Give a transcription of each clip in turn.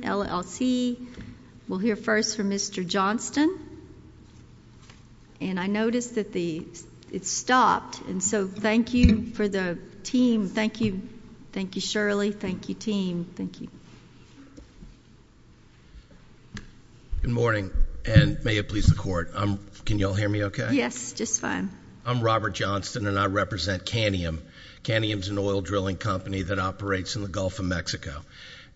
LLC. We'll hear first from Mr. Johnston. And I noticed that it stopped. And so thank you for the team. Thank you. Thank you, Shirley. Thank you, team. Thank you. Good morning, and may it please the Court. Can you all hear me okay? Yes, just fine. I'm Robert Johnston, and I represent Canium. Canium is an oil drilling company that operates in the Gulf of Mexico.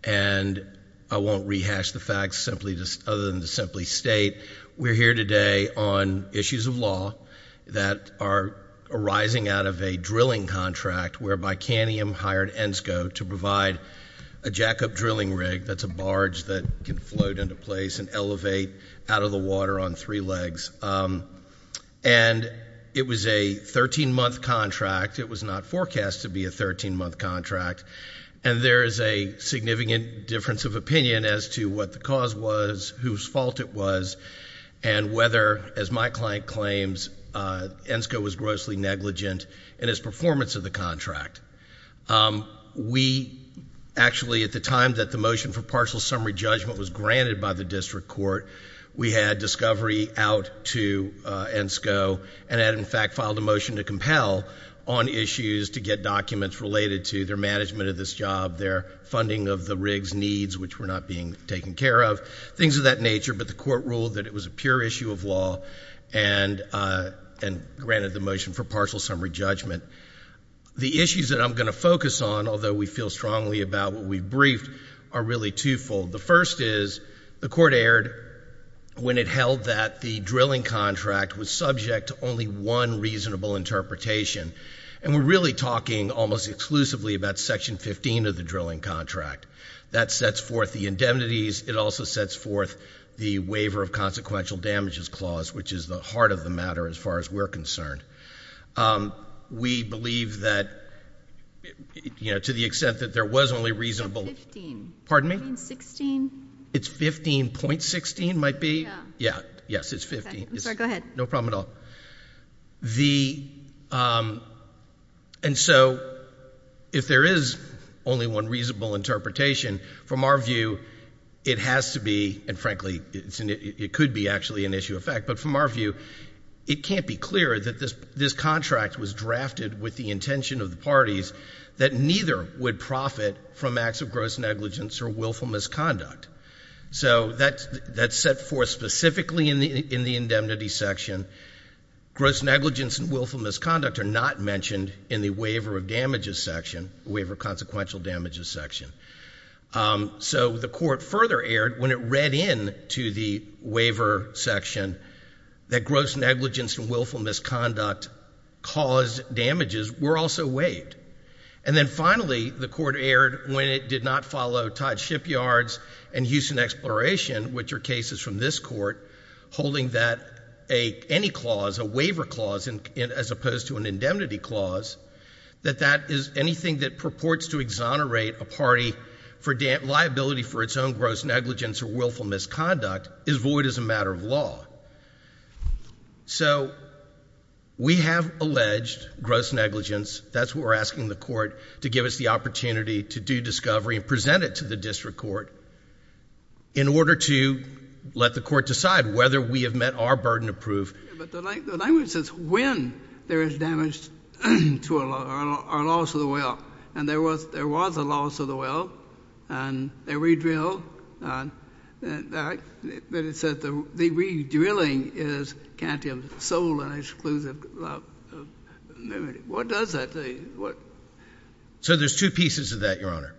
And I won't rehash the facts other than to simply state we're here today on issues of law that are arising out of a drilling contract whereby Canium hired ENSCO to provide a jackup drilling rig that's a barge that can float into place and elevate out of the water on three legs. And it was a 13-month contract. It was not forecast to be a 13-month contract. And there is a significant difference of opinion as to what the cause was, whose fault it was, and whether, as my client claims, ENSCO was grossly negligent in its performance of the contract. We actually, at the time that the motion for partial summary judgment was granted by the district court, we had discovery out to ENSCO and had in fact filed a motion to compel on issues to get documents related to their management of this job, their funding of the rig's needs, which were not being taken care of, things of that nature. But the Court ruled that it was a pure issue of law and granted the motion for partial summary judgment. The issues that I'm going to focus on, although we feel strongly about what we've briefed, are really twofold. The first is the Court erred when it held that the drilling contract was subject to only one reasonable interpretation. And we're really talking almost exclusively about Section 15 of the drilling contract. That sets forth the indemnities. It also sets forth the waiver of consequential damages clause, which is the heart of the matter as far as we're concerned. We believe that, you know, to the extent that there was only reasonable — It's 15. Pardon me? I mean, 16. It's 15.16 might be? Yeah. Yeah. Yes, it's 15. I'm sorry, go ahead. No problem at all. And so if there is only one reasonable interpretation, from our view, it has to be, and frankly, it could be actually an issue of fact, but from our view, it can't be clearer that this contract was drafted with the intention of the parties that neither would profit from acts of gross negligence or willful misconduct. So that's set forth specifically in the indemnity section. Gross negligence and willful misconduct are not mentioned in the waiver of damages section, the waiver of consequential damages section. So the Court further erred when it read in to the waiver section that gross negligence and willful misconduct caused damages were also waived. And then finally, the Court erred when it did not follow Todd Shipyard's and Houston Exploration, which are cases from this Court, holding that any clause, a waiver clause, as opposed to an indemnity clause, that that is anything that purports to exonerate a party for liability for its own gross negligence or willful misconduct is void as a matter of law. So we have alleged gross negligence. That's what we're asking the Court to give us the opportunity to do discovery and present it to the District Court in order to let the Court decide whether we have met our burden of proof. But the language says when there is damage to our loss of the well. And there was a loss of the well. And they redrilled. But it said the redrilling is cantum sole and exclusive liability. What does that say? So there's two pieces to that, Your Honor.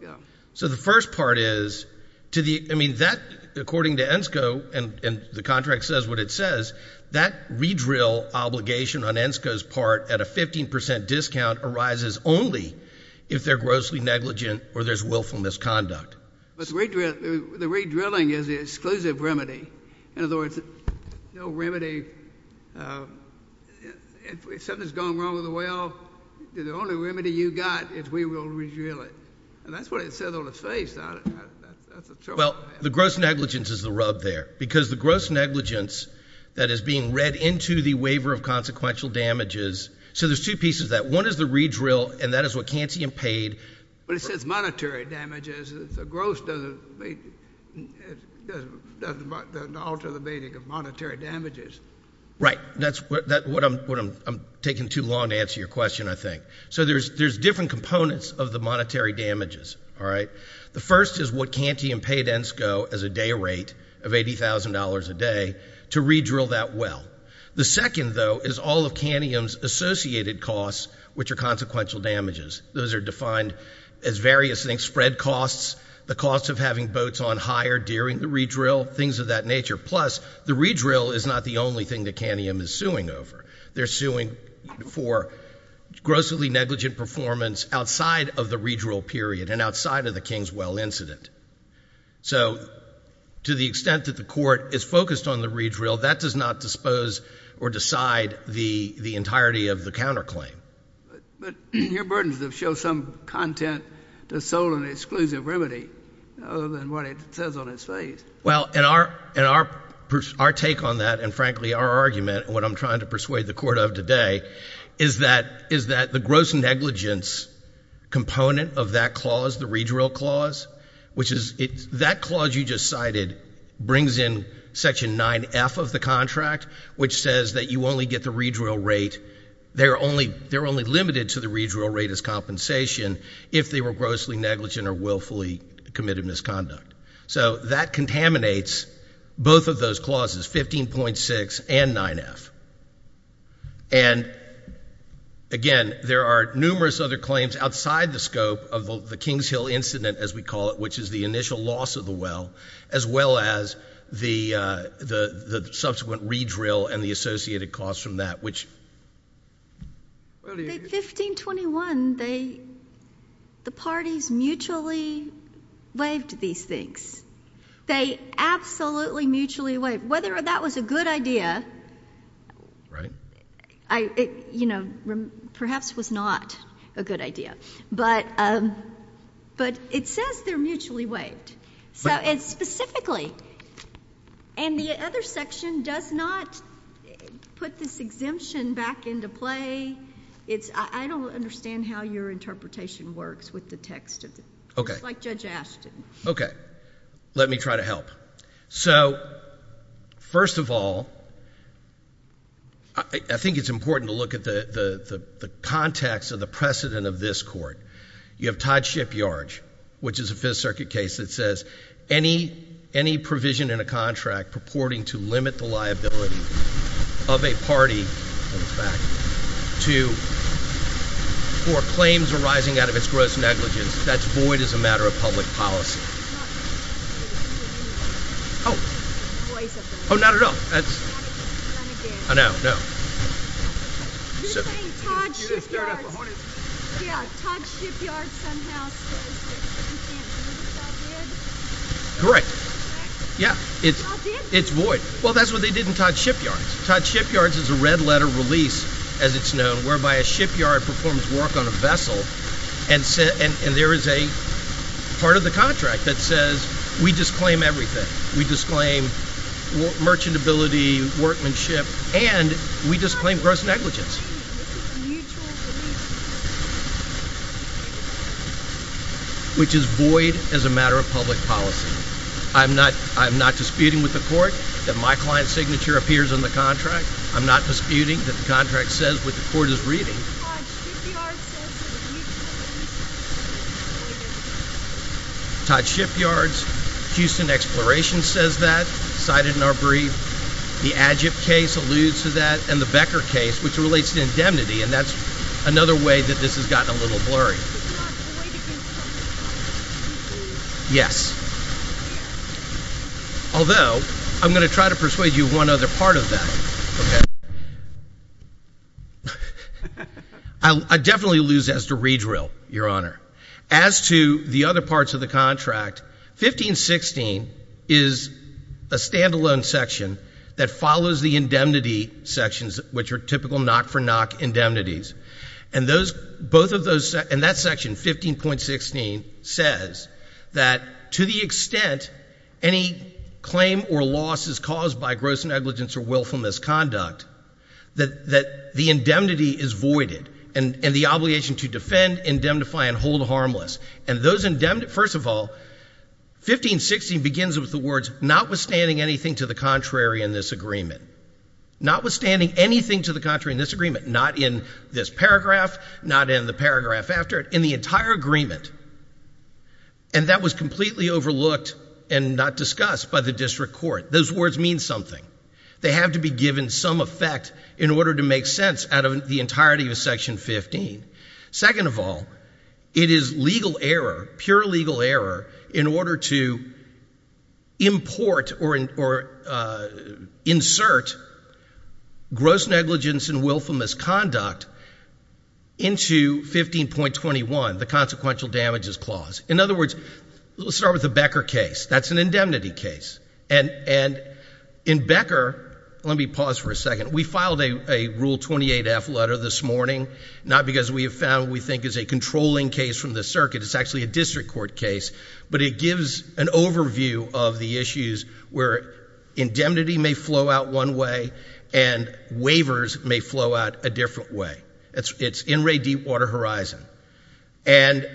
So the first part is, I mean, that, according to ENSCO, and the contract says what it says, that redrill obligation on ENSCO's part at a 15 percent discount arises only if they're grossly negligent or there's willful misconduct. The redrilling is the exclusive remedy. In other words, no remedy. If something's gone wrong with the well, the only remedy you got is we will redrill it. And that's what it says on its face. That's a terrible passage. Well, the gross negligence is the rub there. Because the gross negligence that is being read into the waiver of consequential damages. So there's two pieces to that. One is the redrill. And that is what Canty and Pade. But it says monetary damages. The gross doesn't alter the meaning of monetary damages. Right. That's what I'm taking too long to answer your question, I think. So there's different components of the monetary damages, all right? The first is what Canty and Pade and ENSCO as a day rate of $80,000 a day to redrill that well. The second, though, is all of Canium's associated costs, which are consequential damages. Those are defined as various things, spread costs, the cost of having boats on higher during the redrill, things of that nature. Plus, the redrill is not the only thing that Cantium is suing over. They're suing for grossly negligent performance outside of the redrill period and outside of the Kingswell incident. So to the extent that the court is focused on the redrill, that does not dispose or decide the entirety of the counterclaim. But your burdens have shown some content to sole and exclusive remedy other than what it says on its face. Well, and our take on that and, frankly, our argument and what I'm trying to persuade the court of today is that the gross negligence component of that clause, the redrill clause, which is that clause you just cited brings in section 9F of the contract, which says that you only get the redrill rate. They're only limited to the redrill rate as compensation if they were grossly negligent or willfully committed misconduct. So that contaminates both of those clauses, 15.6 and 9F. And, again, there are numerous other claims outside the scope of the Kingshill incident, as we call it, which is the initial loss of the well, as well as the subsequent redrill and the associated costs from that, which... At 1521, the parties mutually waived these things. They absolutely did not want to be mutually waived. Whether that was a good idea, perhaps was not a good idea. But it says they're mutually waived. So it's specifically. And the other section does not put this exemption back into play. I don't understand how your interpretation works with the text. It's like Judge Ashton. Okay. Let me try to help. So, first of all, I think it's important to look at the context of the precedent of this court. You have Todd Shipyard, which is a Fifth Circuit case that says any provision in a contract purporting to limit the liability of a party to... for instance... Oh. Oh, not at all. That's... I know. No. You're saying Todd Shipyard. Yeah. Todd Shipyard somehow says that you can't deliver. Correct. Yeah. It's void. Well, that's what they did in Todd Shipyard. Todd Shipyard is a red-letter release, as it's known, whereby a shipyard performs work on a vessel and there is a part of the contract that says we disclaim everything. We disclaim merchantability, workmanship, and we disclaim gross negligence. Which is void as a matter of public policy. I'm not disputing with the court that my client's signature appears on the contract. I'm not disputing that the contract says what the court is reading. Todd Shipyard says that you can't deliver. Todd Shipyard's Houston Exploration says that, cited in our brief. The Agip case alludes to that, and the Becker case, which relates to indemnity, and that's another way that this has gotten a little blurry. This is not void against public policy, is it? Yes. Although, I'm going to try to persuade you of one other part of that. Okay. I definitely lose as to redrill, Your Honor. As to the other parts of the contract, 15.16 is a stand-alone section that follows the indemnity sections, which are typical knock-for-knock indemnities. And those, both of those, and that section, 15.16, says that to the extent any claim or loss is caused by gross negligence or willfulness conduct, that the indemnity is voided, and the obligation to defend, indemnify, and hold harmless. And those indemnities, first of all, 15.16 begins with the words, notwithstanding anything to the contrary in this agreement. Notwithstanding anything to the contrary in this agreement. Not in this paragraph, not in the paragraph after it. In the entire agreement. And that was completely overlooked and not discussed by the district court. Those words mean something. They have to be given some effect in order to make sense out of the entirety of Section 15. Second of all, it is legal error, pure legal error, in order to import or insert gross negligence and willfulness conduct into 15.21, the consequential damages clause. In other words, let's start with the Becker case. That's an indemnity case. And in Becker, let me pause for a second. We filed a Rule 28-F letter this morning, not because we have found what we think is a controlling case from the circuit. It's actually a district court case. But it gives an overview of the issues where indemnity may flow out one way and waivers may flow out a different way. It's in re deep water horizon. And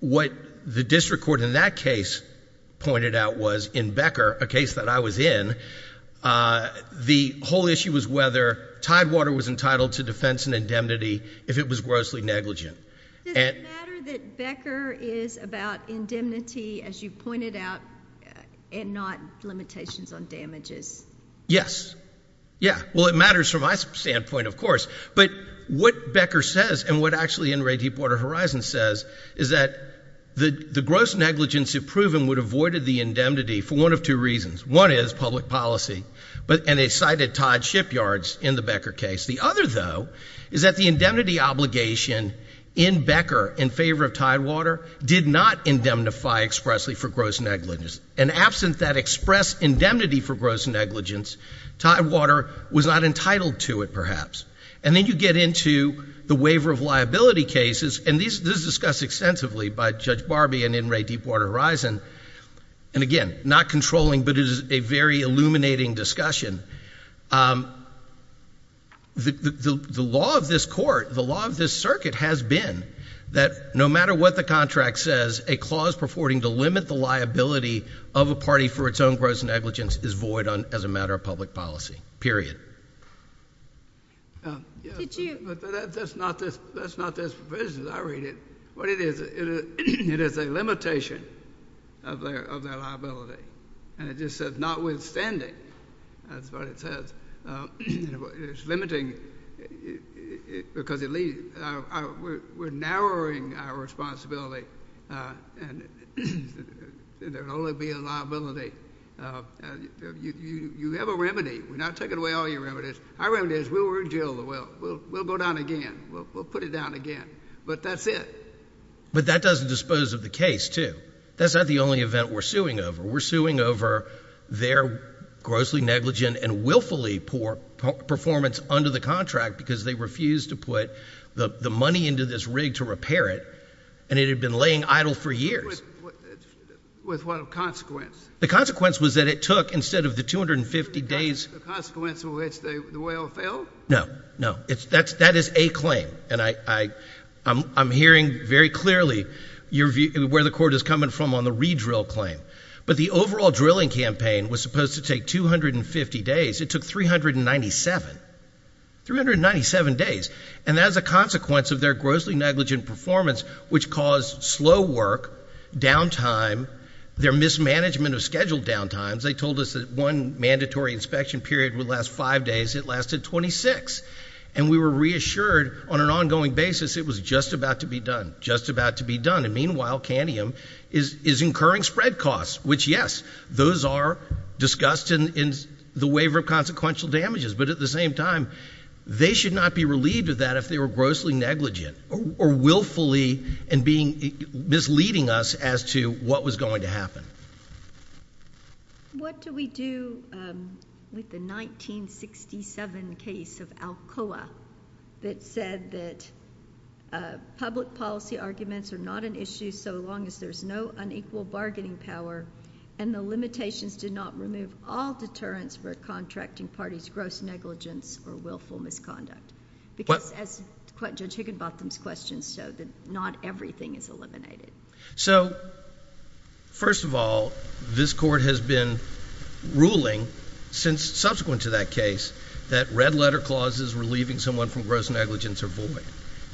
what the district court in that case pointed out was, in Becker, a case that I was in, the whole issue was whether tidewater was entitled to defense and indemnity if it was grossly negligent. Does it matter that Becker is about indemnity, as you pointed out, and not limitations on damages? Yes. Yeah. Well, it matters from my standpoint, of course. But what Becker says and what actually re deep water horizon says is that the gross negligence if proven would have voided the indemnity for one of two reasons. One is public policy. And they cited Todd Shipyards in the Becker case. The other, though, is that the indemnity obligation in Becker in favor of tidewater did not indemnify expressly for gross negligence. And absent that express indemnity for gross negligence, tidewater was not entitled to it, perhaps. And then you get into the waiver of liability cases. And this is discussed extensively by Judge Barbee and in re deep water horizon. And again, not controlling, but it is a very illuminating discussion. The law of this court, the law of this circuit has been that no matter what the contract says, a clause purporting to limit the liability of a party for its own gross negligence is void as a matter of public policy. Period. But that's not this provision. I read it. What it is, it is a limitation of their liability. And it just says notwithstanding. That's what it says. It's limiting because we're narrowing our responsibility and there will only be a liability. You have a remedy. We're not taking away all your remedies. Our remedy is we'll rejail the well. We'll go down again. We'll put it down again. But that's it. But that doesn't dispose of the case, too. That's not the only event we're suing over. We're suing over their grossly negligent and willfully poor performance under the contract because they refused to put the money into this rig to repair it. And it had been laying idle for years. With what consequence? The consequence was that it took, instead of the 250 days... The consequence of which the well failed? No. No. That is a claim. And I'm hearing very clearly where the court is coming from on the redrill claim. But the overall drilling campaign was supposed to take 250 days. It took 397. 397 days. And as a consequence of their grossly negligent performance, which caused slow work, downtime, their mismanagement of scheduled downtimes, they told us that one mandatory inspection period would last five days. It lasted 26. And we were reassured on an ongoing basis it was just about to be done. Just about to be done. And meanwhile is incurring spread costs, which yes, those are discussed in the waiver of consequential damages. But at the same time, they should not be relieved of that if they were grossly negligent or willfully misleading us as to what was going to happen. What do we do with the 1967 case of Alcoa that said that public policy arguments are not an issue so long as there's no unequal bargaining power and the limitations did not remove all deterrents for contracting parties' gross negligence or willful misconduct? Because as Judge Higginbotham's questions showed, not everything is eliminated. So first of all, this Court has been ruling since subsequent to that case that red letter clauses relieving someone from gross negligence are void.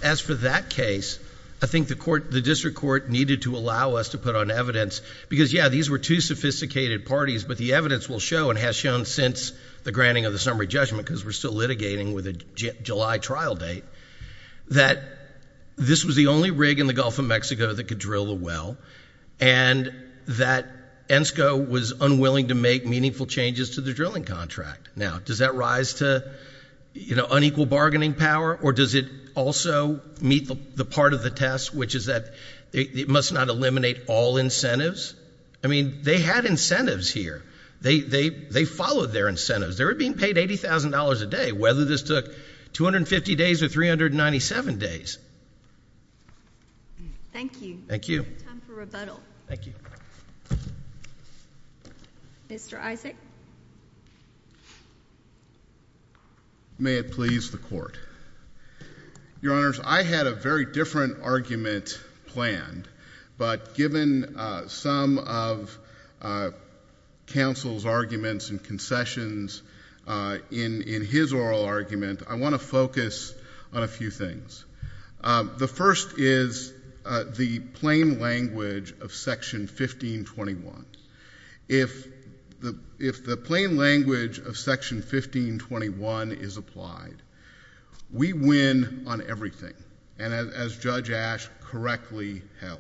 As for that case, I think the court the district court needed to allow us to put on evidence because yeah, these were two sophisticated parties but the evidence will show and has shown since the granting of the summary judgment because we're still litigating with a July trial date that this was the only rig in the Gulf of Mexico that could drill a well and that ENSCO was unwilling to make meaningful changes to the drilling contract. Now, does that rise to, you know, unequal bargaining power or does it also meet the part of the test which is that it must not eliminate all incentives? I mean, they had incentives here. They followed their incentives. They were being paid $80,000 a day whether this took 250 days or 397 days. Thank you. Thank you. Time for rebuttal. Thank you. Mr. Isaac. May it please the court. Your Honors, I had a very different argument planned but given some of counsel's arguments and concessions in his oral argument, I want to focus on a few things. The first is the plain language of Section 1521. If the, if the plaintiff plain language of Section 1521 is applied, we win on everything and as Judge Ashe correctly held.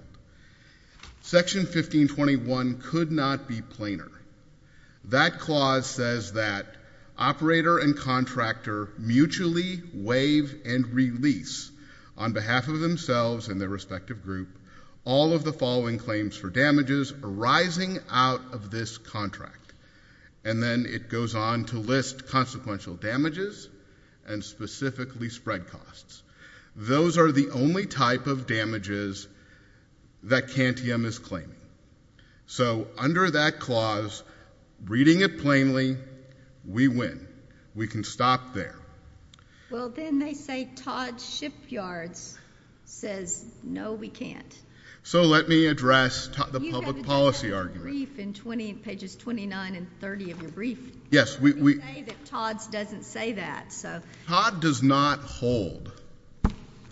Section 1521 could not be plainer. That clause says that operator and contractor mutually waive and release on behalf of themselves and their respective group all of the following claims for damages arising out of this contract and then it goes on to list consequential damages and specifically spread costs. Those are the only type of damages that Cantium is claiming. So under that clause, reading it plainly, we win. We can stop there. Well then they say Todd Shipyards says no we can't. So let me address the public policy argument. You have addressed that in your brief in pages 29 and 30 of your brief. Yes. You say that Todd's doesn't say that. Todd does not hold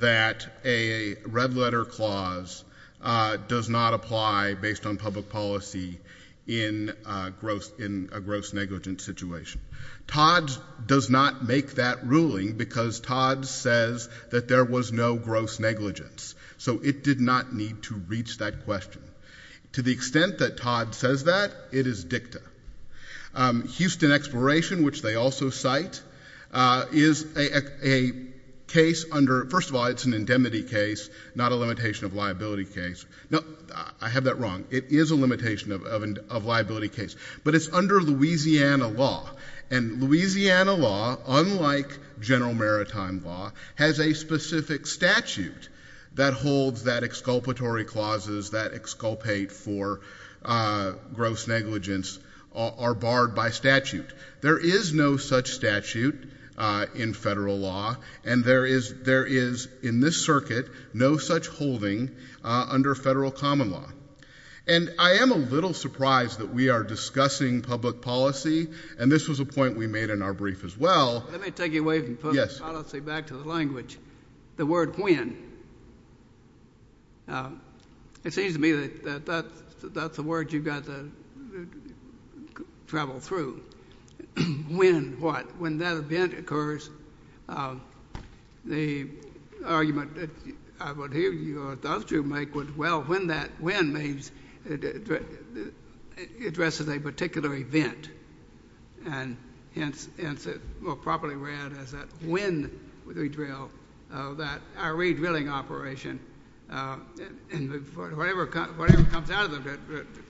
that a red letter clause does not apply based on public policy in gross, in a gross negligence situation. Todd's does not make that ruling because Todd's says that there was no gross negligence. So it did not need to reach that question. To the extent that Todd says that, it is dicta. Houston Exploration, which they also cite, is a case under, first of all it's an indemnity case, not a limitation of liability case. I have that wrong. It is a limitation of liability case. But it's under Louisiana law and Louisiana law, unlike general maritime law, has a specific statute that holds that exculpatory clauses that exculpate for gross negligence are barred by statute. There is no such statute in federal law and there is in this circuit no such holding under federal common law. And I am a little surprised that we are discussing public policy, and this was a point we made in our brief as well. Let me take you away from public policy back to the language. The word when, it seems to me that that's a word you've got to travel through. When what? When that event occurs, the argument that I would hear you or those two make would, well, when that when means it addresses a particular event, and hence it will properly read as that when we drill that our re-drilling operation, and whatever comes out of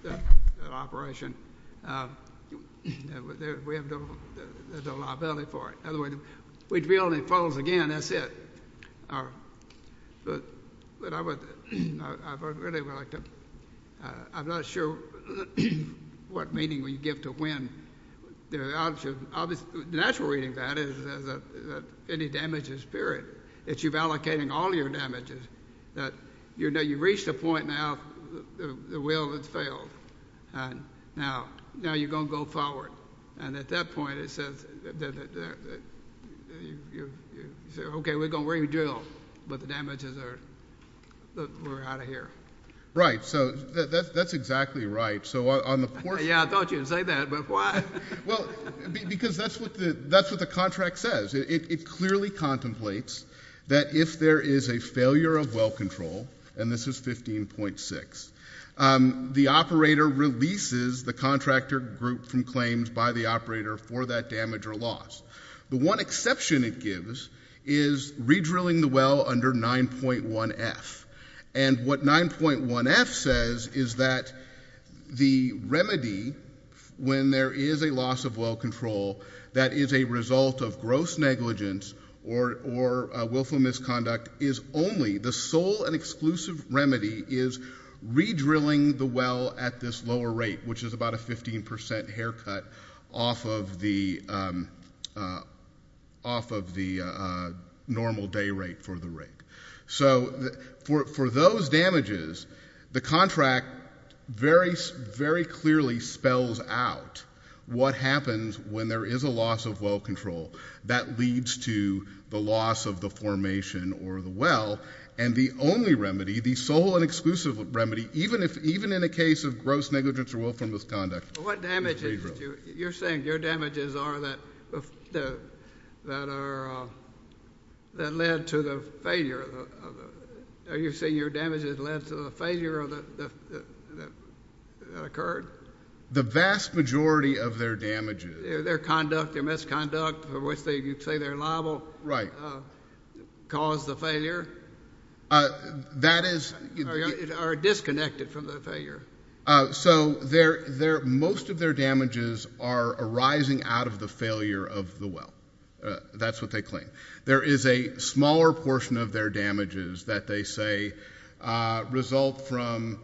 that operation, we have no liability for it. In other words, we drill and it falls again, that's it. But I would really like to, I'm not sure what meaning we give to when. The natural reading of that is that any damage is spirit. It's you've allocated all your damages. You know, you've reached a point now, the will has failed, and now you're going to go forward. And at that point it says, you say, okay, we're going to re-drill, but the damages are, we're out of here. Right, so that's exactly right. So on the portion. Yeah, I thought you'd say that, but why? Well, because that's what the contract says. It clearly contemplates that if there is a failure of well control, and this is 15.6, the operator releases the contractor group from claims by the operator for that damage or loss. The one exception it gives is re-drilling the well under 9.1F. And what 9.1F says is that the remedy when there is a loss of well control that is a result of gross negligence or willful misconduct is only, the sole and exclusive remedy is re-drilling the well at this lower rate, which is about a 15% haircut off of the normal day rate for the rig. So for those damages, the contract very clearly spells out what happens when there is a loss of well control that leads to the loss of the formation or the well, and the only remedy, the sole and exclusive remedy, even in a case of gross negligence or willful misconduct is re-drilling. What damages, you're saying your damages are that led to the failure, are you saying your damages led to the failure that occurred? The vast majority of their damages. Their conduct, their misconduct, for which you say they're liable, caused the failure? That is... Are disconnected from the failure. So most of their damages are arising out of the failure of the well. That's what they claim. There is a smaller portion of their damages that they say result from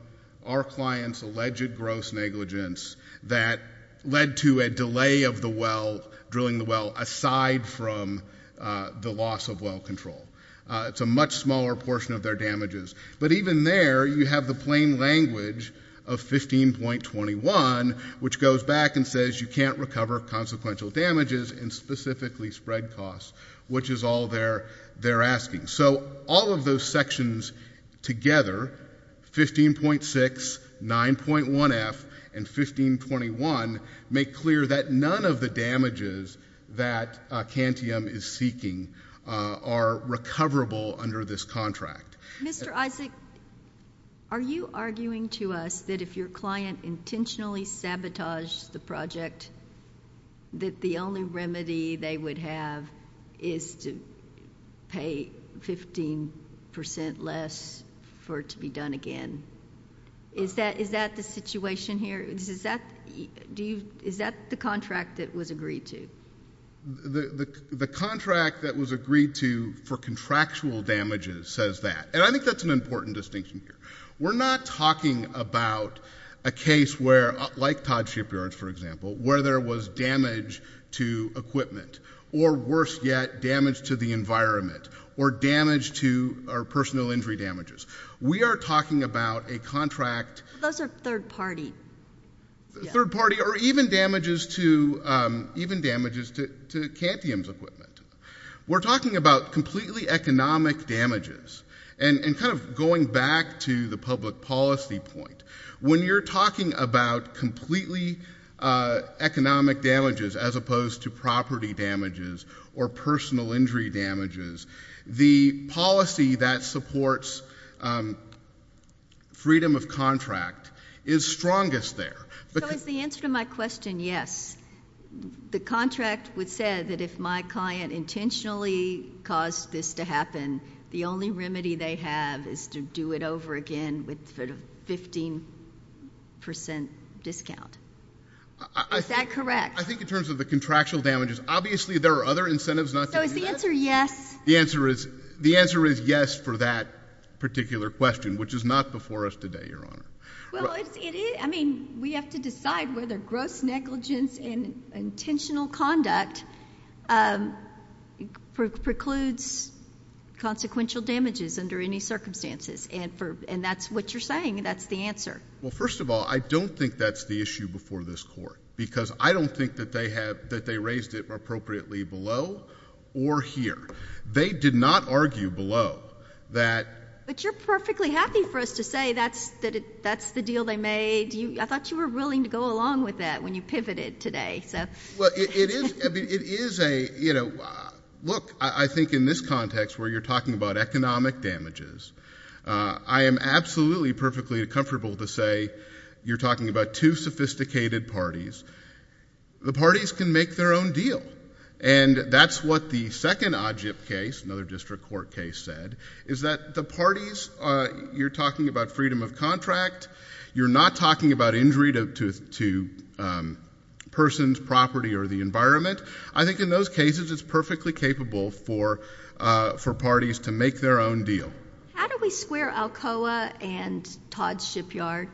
our client's alleged gross negligence that led to a delay of the well, drilling the well, aside from the loss of well control. It's a much smaller portion of their damages. But even there, you have the plain language of 15.21, which goes back and says you can't recover consequential damages and specifically spread costs, which is all they're asking. So all of those sections together, 15.6, 9.1F, and 15.21, make clear that none of the damages that Cantium is seeking are recoverable under this contract. Mr. Isaac, are you arguing to us that if your client intentionally sabotaged the project, that the only remedy they would have is to pay 15 percent less for it to be done again? Is that the situation here? Is that the contract that was agreed to? The contract that was agreed to for contractual damages says that. And I think that's an important distinction here. We're not talking about a case where, like Todd Shipyard, for example, where there was damage to equipment, or worse yet, damage to the environment, or damage to our personal injury damages. We are talking about a contract— Those are third party. Third party, or even damages to Cantium's equipment. We're talking about completely economic damages. And kind of going back to the public policy point, when you're talking about completely economic damages as opposed to property damages or personal injury damages, the policy that supports freedom of contract is strongest there. So is the answer to my question yes? The contract would say that if my client intentionally caused this to happen, the only remedy they have is to do it over again with 15 percent discount. Is that correct? I think in terms of the contractual damages, obviously there are other incentives not to do that. So is the answer yes? The answer is yes for that particular question, which is not before us today, Your Honor. Well, it is—I mean, we have to decide whether gross negligence and intentional conduct precludes consequential damages under any circumstances. And that's what you're saying. That's the Well, first of all, I don't think that's the issue before this Court. Because I don't think that they have—that they raised it appropriately below or here. They did not argue below that— But you're perfectly happy for us to say that's the deal they made. I thought you were willing to go along with that when you pivoted today. Well, it is a—you know, look, I think in this context where you're talking about economic damages, I am absolutely perfectly comfortable to say you're talking about two sophisticated parties. The parties can make their own deal. And that's what the second OJIP case, another district court case, said, is that the parties—you're talking about freedom of contract. You're not talking about injury to persons, property, or the environment. I think in those cases it's perfectly capable for parties to make their own deal. How do we square Alcoa and Todd's Shipyard?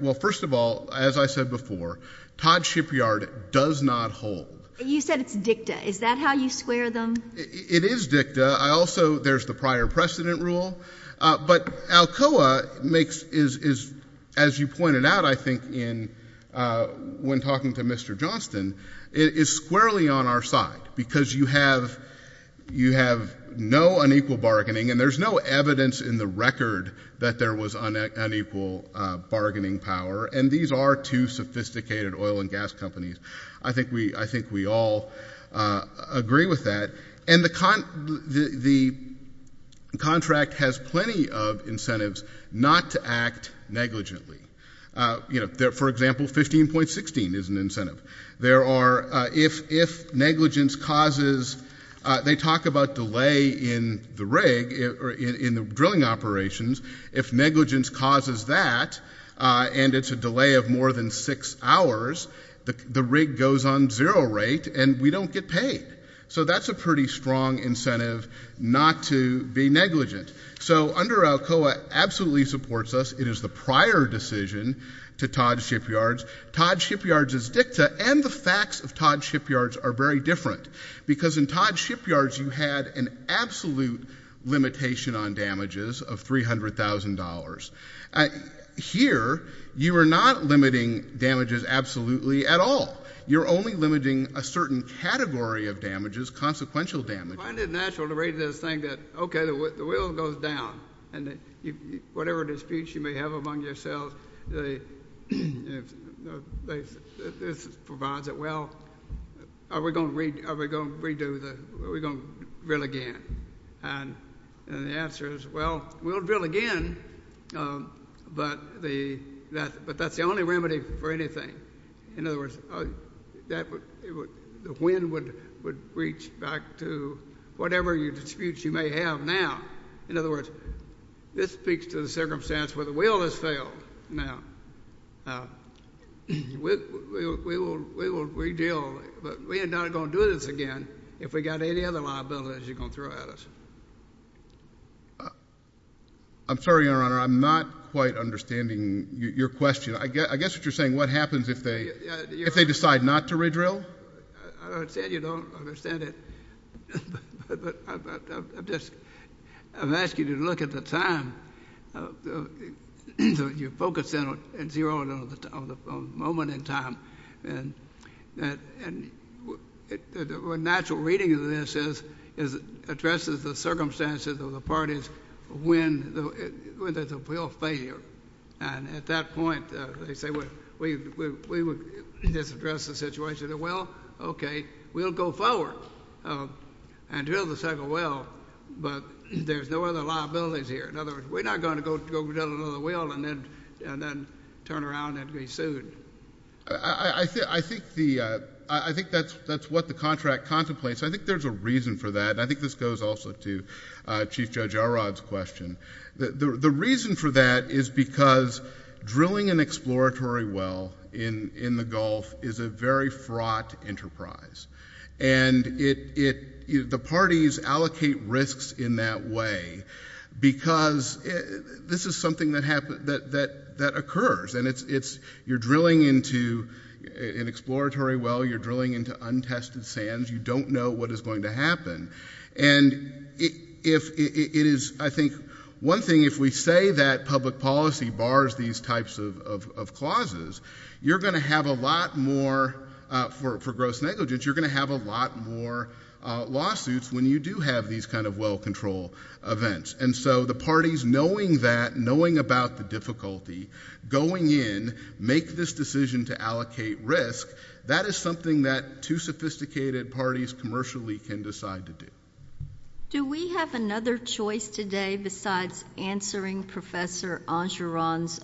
Well, first of all, as I said before, Todd's Shipyard does not hold. You said it's dicta. Is that how you square them? It is dicta. I also—there's the prior precedent rule. But Alcoa makes—is, as you pointed out, I think in—when talking to Mr. Johnston, it is squarely on our side. Because you have—you have no unequal bargaining, and there's no evidence in the record that there was unequal bargaining power. And these are two sophisticated oil and gas companies. I think we all agree with that. And the contract has plenty of incentives not to act negligently. For example, 15.16 is an incentive. There are—if negligence causes—they talk about delay in the rig, or in the drilling operations. If negligence causes that, and it's a delay of more than six hours, the rig goes on zero rate, and we don't get paid. So that's a pretty strong incentive not to be negligent. So under Alcoa, absolutely supports us. It is the prior decision to Todd's Shipyards. Todd's Shipyards is dicta, and the facts of Todd's Shipyards are very different. Because in Todd's Shipyards, you had an absolute limitation on damages of $300,000. Here you are not limiting damages absolutely at all. You're only limiting a certain category of damages, consequential damages. I find it natural to read this thing that, okay, the wheel goes down, and whatever disputes you may have among yourselves, they—this provides it. Well, are we going to read—are we going to drill again? And the answer is, well, we'll drill again, but the—but that's the only remedy for anything. In other words, that would—the wind would reach back to whatever disputes you may have now. In other words, this speaks to the circumstance where the wheel has failed now. We will redeal, but we are not going to do this again. If we got any other liabilities, you're going to throw at us. I'm sorry, Your Honor, I'm not quite understanding your question. I guess what you're saying, what happens if they—if they decide not to redrill? I understand you don't understand it, but I'm just—I'm asking you to look at the time. You focus in on zero and on the moment in time, and that—and when you look at the natural reading of this is—addresses the circumstances of the parties when the wheel failed. And at that point, they say, well, we would just address the situation of, well, okay, we'll go forward and drill the second wheel, but there's no other liabilities here. In other words, we're not going to go drill another wheel and then turn around and be sued. I think the—I think that's what the contract contemplates. I think there's a reason for that, and I think this goes also to Chief Judge Arad's question. The reason for that is because drilling an exploratory well in the Gulf is a very fraught enterprise, and the parties allocate risks in that way because this is something that occurs, and it's—you're drilling into an exploratory well, you're drilling into untested sands, you don't know what is going to happen. And if—it is, I think—one thing, if we say that public policy bars these types of clauses, you're going to have a lot more—for gross negligence, you're going to have a lot more lawsuits when you do have these kind of well control events. And so the parties, knowing that, knowing about the difficulty, going in, make this decision to allocate risk, that is something that two sophisticated parties commercially can decide to do. Do we have another choice today besides answering Professor Angeron's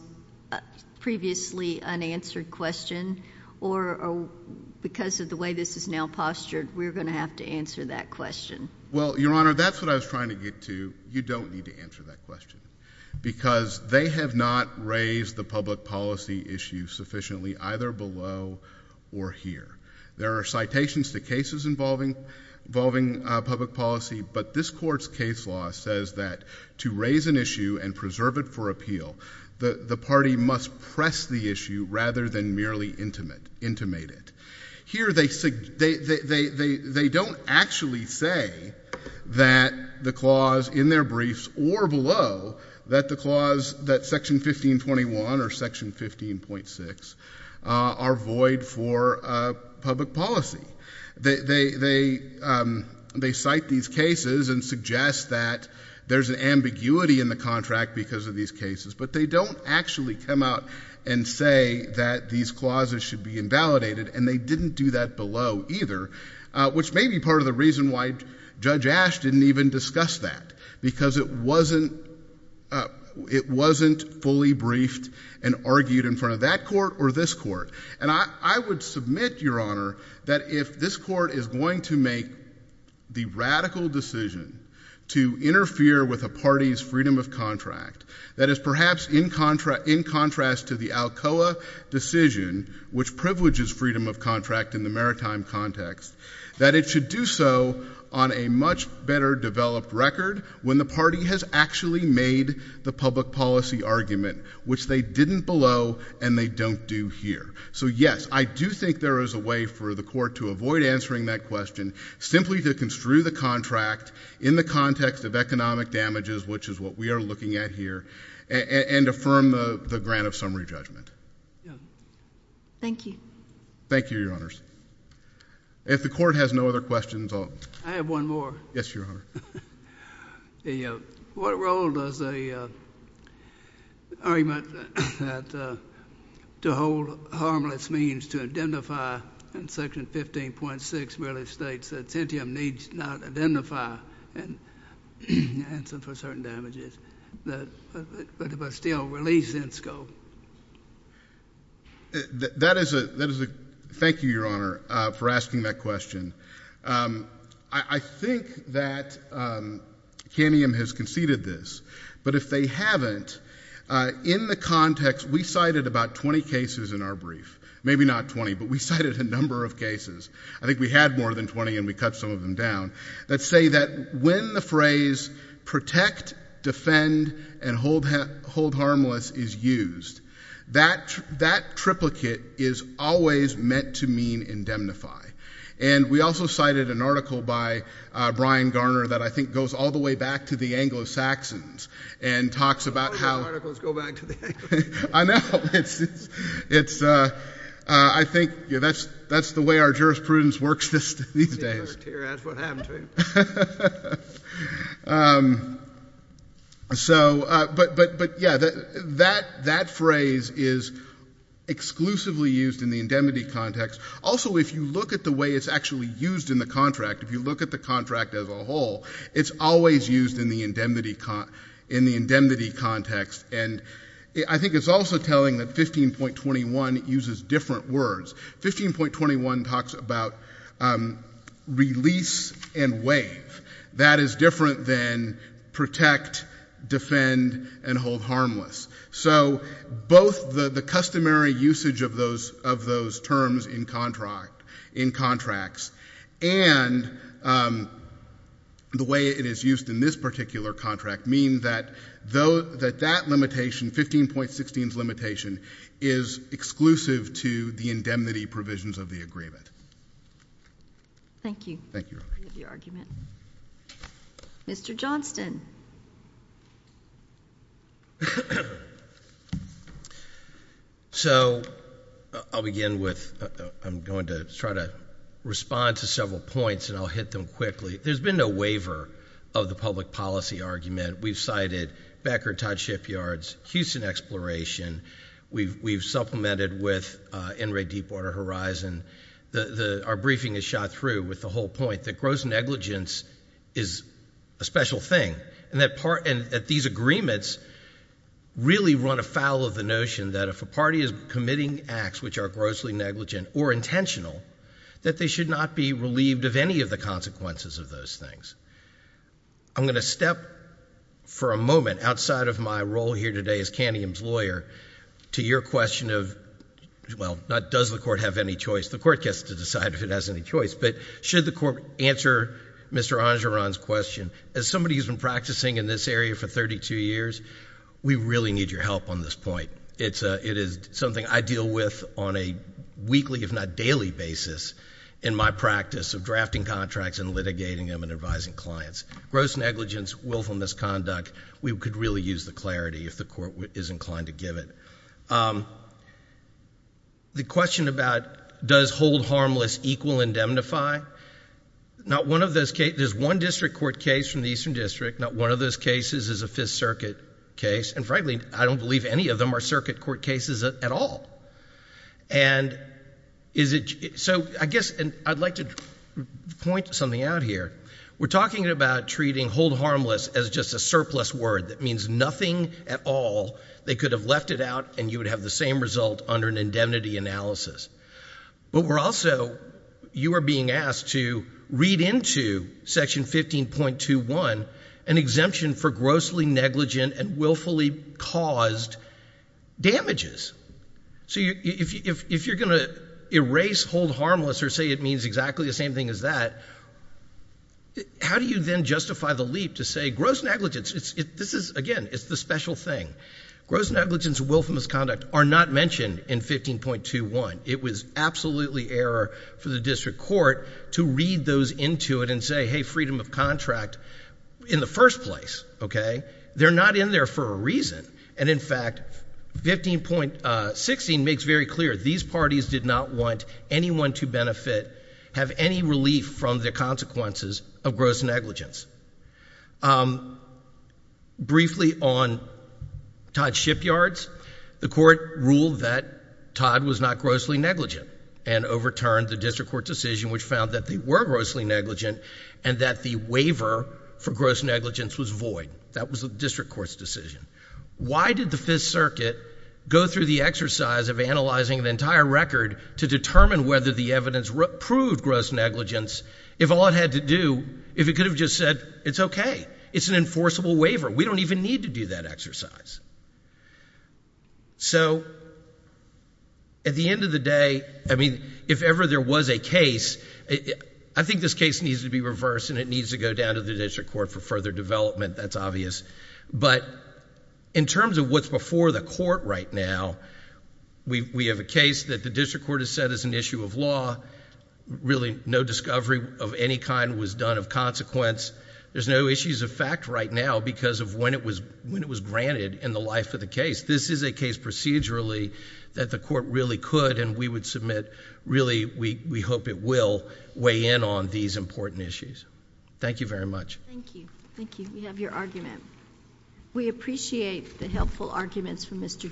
previously unanswered question, or because of the way this is now postured, we're going to have to answer that question? Well, Your Honor, that's what I was trying to get to. You don't need to answer that question because they have not raised the public policy issue sufficiently, either below or here. There are citations to cases involving public policy, but this Court's case law says that to raise an issue and preserve it for appeal, the party must press the issue rather than merely intimate it. Here they don't actually say that the clause in their briefs, or below, that the clause, that Section 1521 or Section 15.6, are void for public policy. They cite these cases and suggest that there's an ambiguity in the contract because of these cases, but they don't actually come out and say that these clauses should be invalidated, and they didn't do that below, either, which may be part of the reason why Judge Ash didn't even discuss that, because it wasn't fully briefed and argued in front of that Court or this Court. And I would submit, Your Honor, that if this Court is going to make the radical decision to interfere with a party's freedom of contract, that is perhaps in contrast to the Alcoa decision, which privileges freedom of contract in the maritime context, that it should do so on a much better developed record when the party has actually made the public policy argument, which they didn't below and they don't do here. So, yes, I do think there is a way for the Court to avoid answering that question, simply to construe the contract in the context of economic damages, which is what we are looking at here, and affirm the grant of summary judgment. Thank you. Thank you, Your Honors. If the Court has no other questions, I'll— I have one more. Yes, Your Honor. What role does the argument that to hold harmless means to identify and secure the rights of the people of the Caribbean? Well, I think that Section 15.6 really states that Centium needs not identify and answer for certain damages, but still release in scope. That is a—thank you, Your Honor, for asking that question. I think that Camium has conceded this, but if they haven't, in the context—we cited about 20 cases in our brief, maybe not 20, but we cited a number of cases—I think we had more than 20 and we cut some of them down—that say that when the phrase protect, defend, and hold harmless is used, that triplicate is always meant to mean indemnify. And we also cited an article by Brian Garner that I think goes all the way back to the Anglo-Saxons and talks about how— All of your articles go back to the Anglo-Saxons. I know. I think that's the way our jurisprudence works these days. That's what happened to him. So, but yeah, that phrase is exclusively used in the indemnity context. Also, if you look at the way it's actually used in the contract, if you look at the contract as a whole, it's always used in the indemnity context. And I think it's also telling that 15.21 uses different words. 15.21 talks about release and waive. That is different than protect, defend, and hold harmless. So both the customary usage of those terms in contracts and the way it is used in this particular contract mean that that limitation, 15.16's limitation, is exclusive to the indemnity provisions of the agreement. Thank you. Thank you, Your Honor. I appreciate the argument. Mr. Johnston. So I'll begin with—I'm going to try to respond to several points, and I'll hit them quickly. There's been no waiver of the public policy argument. We've cited backer-tied shipyards, Houston exploration. We've supplemented with NRA Deepwater Horizon. Our briefing is shot through with the whole point that gross negligence is a special thing, and that these agreements really run afoul of the notion that if a party is committing acts which are grossly negligent or intentional, that they should not be relieved of any of the consequences of those things. I'm going to step for a moment, outside of my role here today as Canium's lawyer, to your question of—well, not does the court have any choice. The court gets to decide if it has any choice. But should the court answer Mr. Angeron's question? As somebody who's been practicing in this area for 32 years, we really need your help on this point. It is something I deal with on a weekly, if not daily, basis in my practice of drafting contracts and litigating them and advising clients. Gross negligence, willful misconduct, we could really use the clarity if the court is inclined to give it. The question about does hold harmless equal indemnify? Not one of those cases—there's one district court case from the Eastern District. Not one of those cases is a Fifth Circuit case. And frankly, I don't believe any of them are Circuit Court cases at all. So I guess I'd like to point something out here. We're talking about treating hold harmless as just a surplus word that means nothing at all. They could have left it out and you would have the same result under an indemnity analysis. But we're also—you are being asked to read into Section 15.21 an exemption for grossly negligent and willfully caused damages. So if you're going to erase hold harmless or say it means exactly the same thing as that, how do you then justify the leap to say gross negligence—this is, again, it's the special thing—gross negligence and willful misconduct are not mentioned in 15.21. It was absolutely error for the district court to read those into it and say, hey, freedom of contract in the first place, okay? They're not in there for a reason. And in fact, 15.16 makes very clear these parties did not want anyone to benefit, have any relief from the consequences of gross negligence. Briefly on Todd Shipyard's, the court ruled that Todd was not grossly negligent and overturned the district court decision which found that they were grossly negligent and that the waiver for gross negligence was void. That was the district court's decision. Why did the Fifth Circuit go through the exercise of analyzing the entire record to determine whether the evidence proved gross negligence if all it had to do—if it could have just said, it's okay. It's an enforceable waiver. We don't even need to do that exercise. So at the end of the day, I mean, if ever there was a case, I think this case needs to be reversed and it needs to go down to the district court for further development. That's obvious. But in terms of what's before the court right now, we have a case that the district court has said is an issue of law. Really, no discovery of any kind was done of consequence. There's no issues of fact right now because of when it was granted in the life of the case. This is a case procedurally that the court really could and we would submit, really, we hope it will weigh in on these important issues. Thank you very much. Thank you. Thank you. We have your argument. We appreciate the helpful arguments from Mr.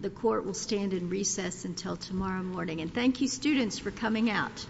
The court will stand in recess until tomorrow morning. And thank you, students, for coming out.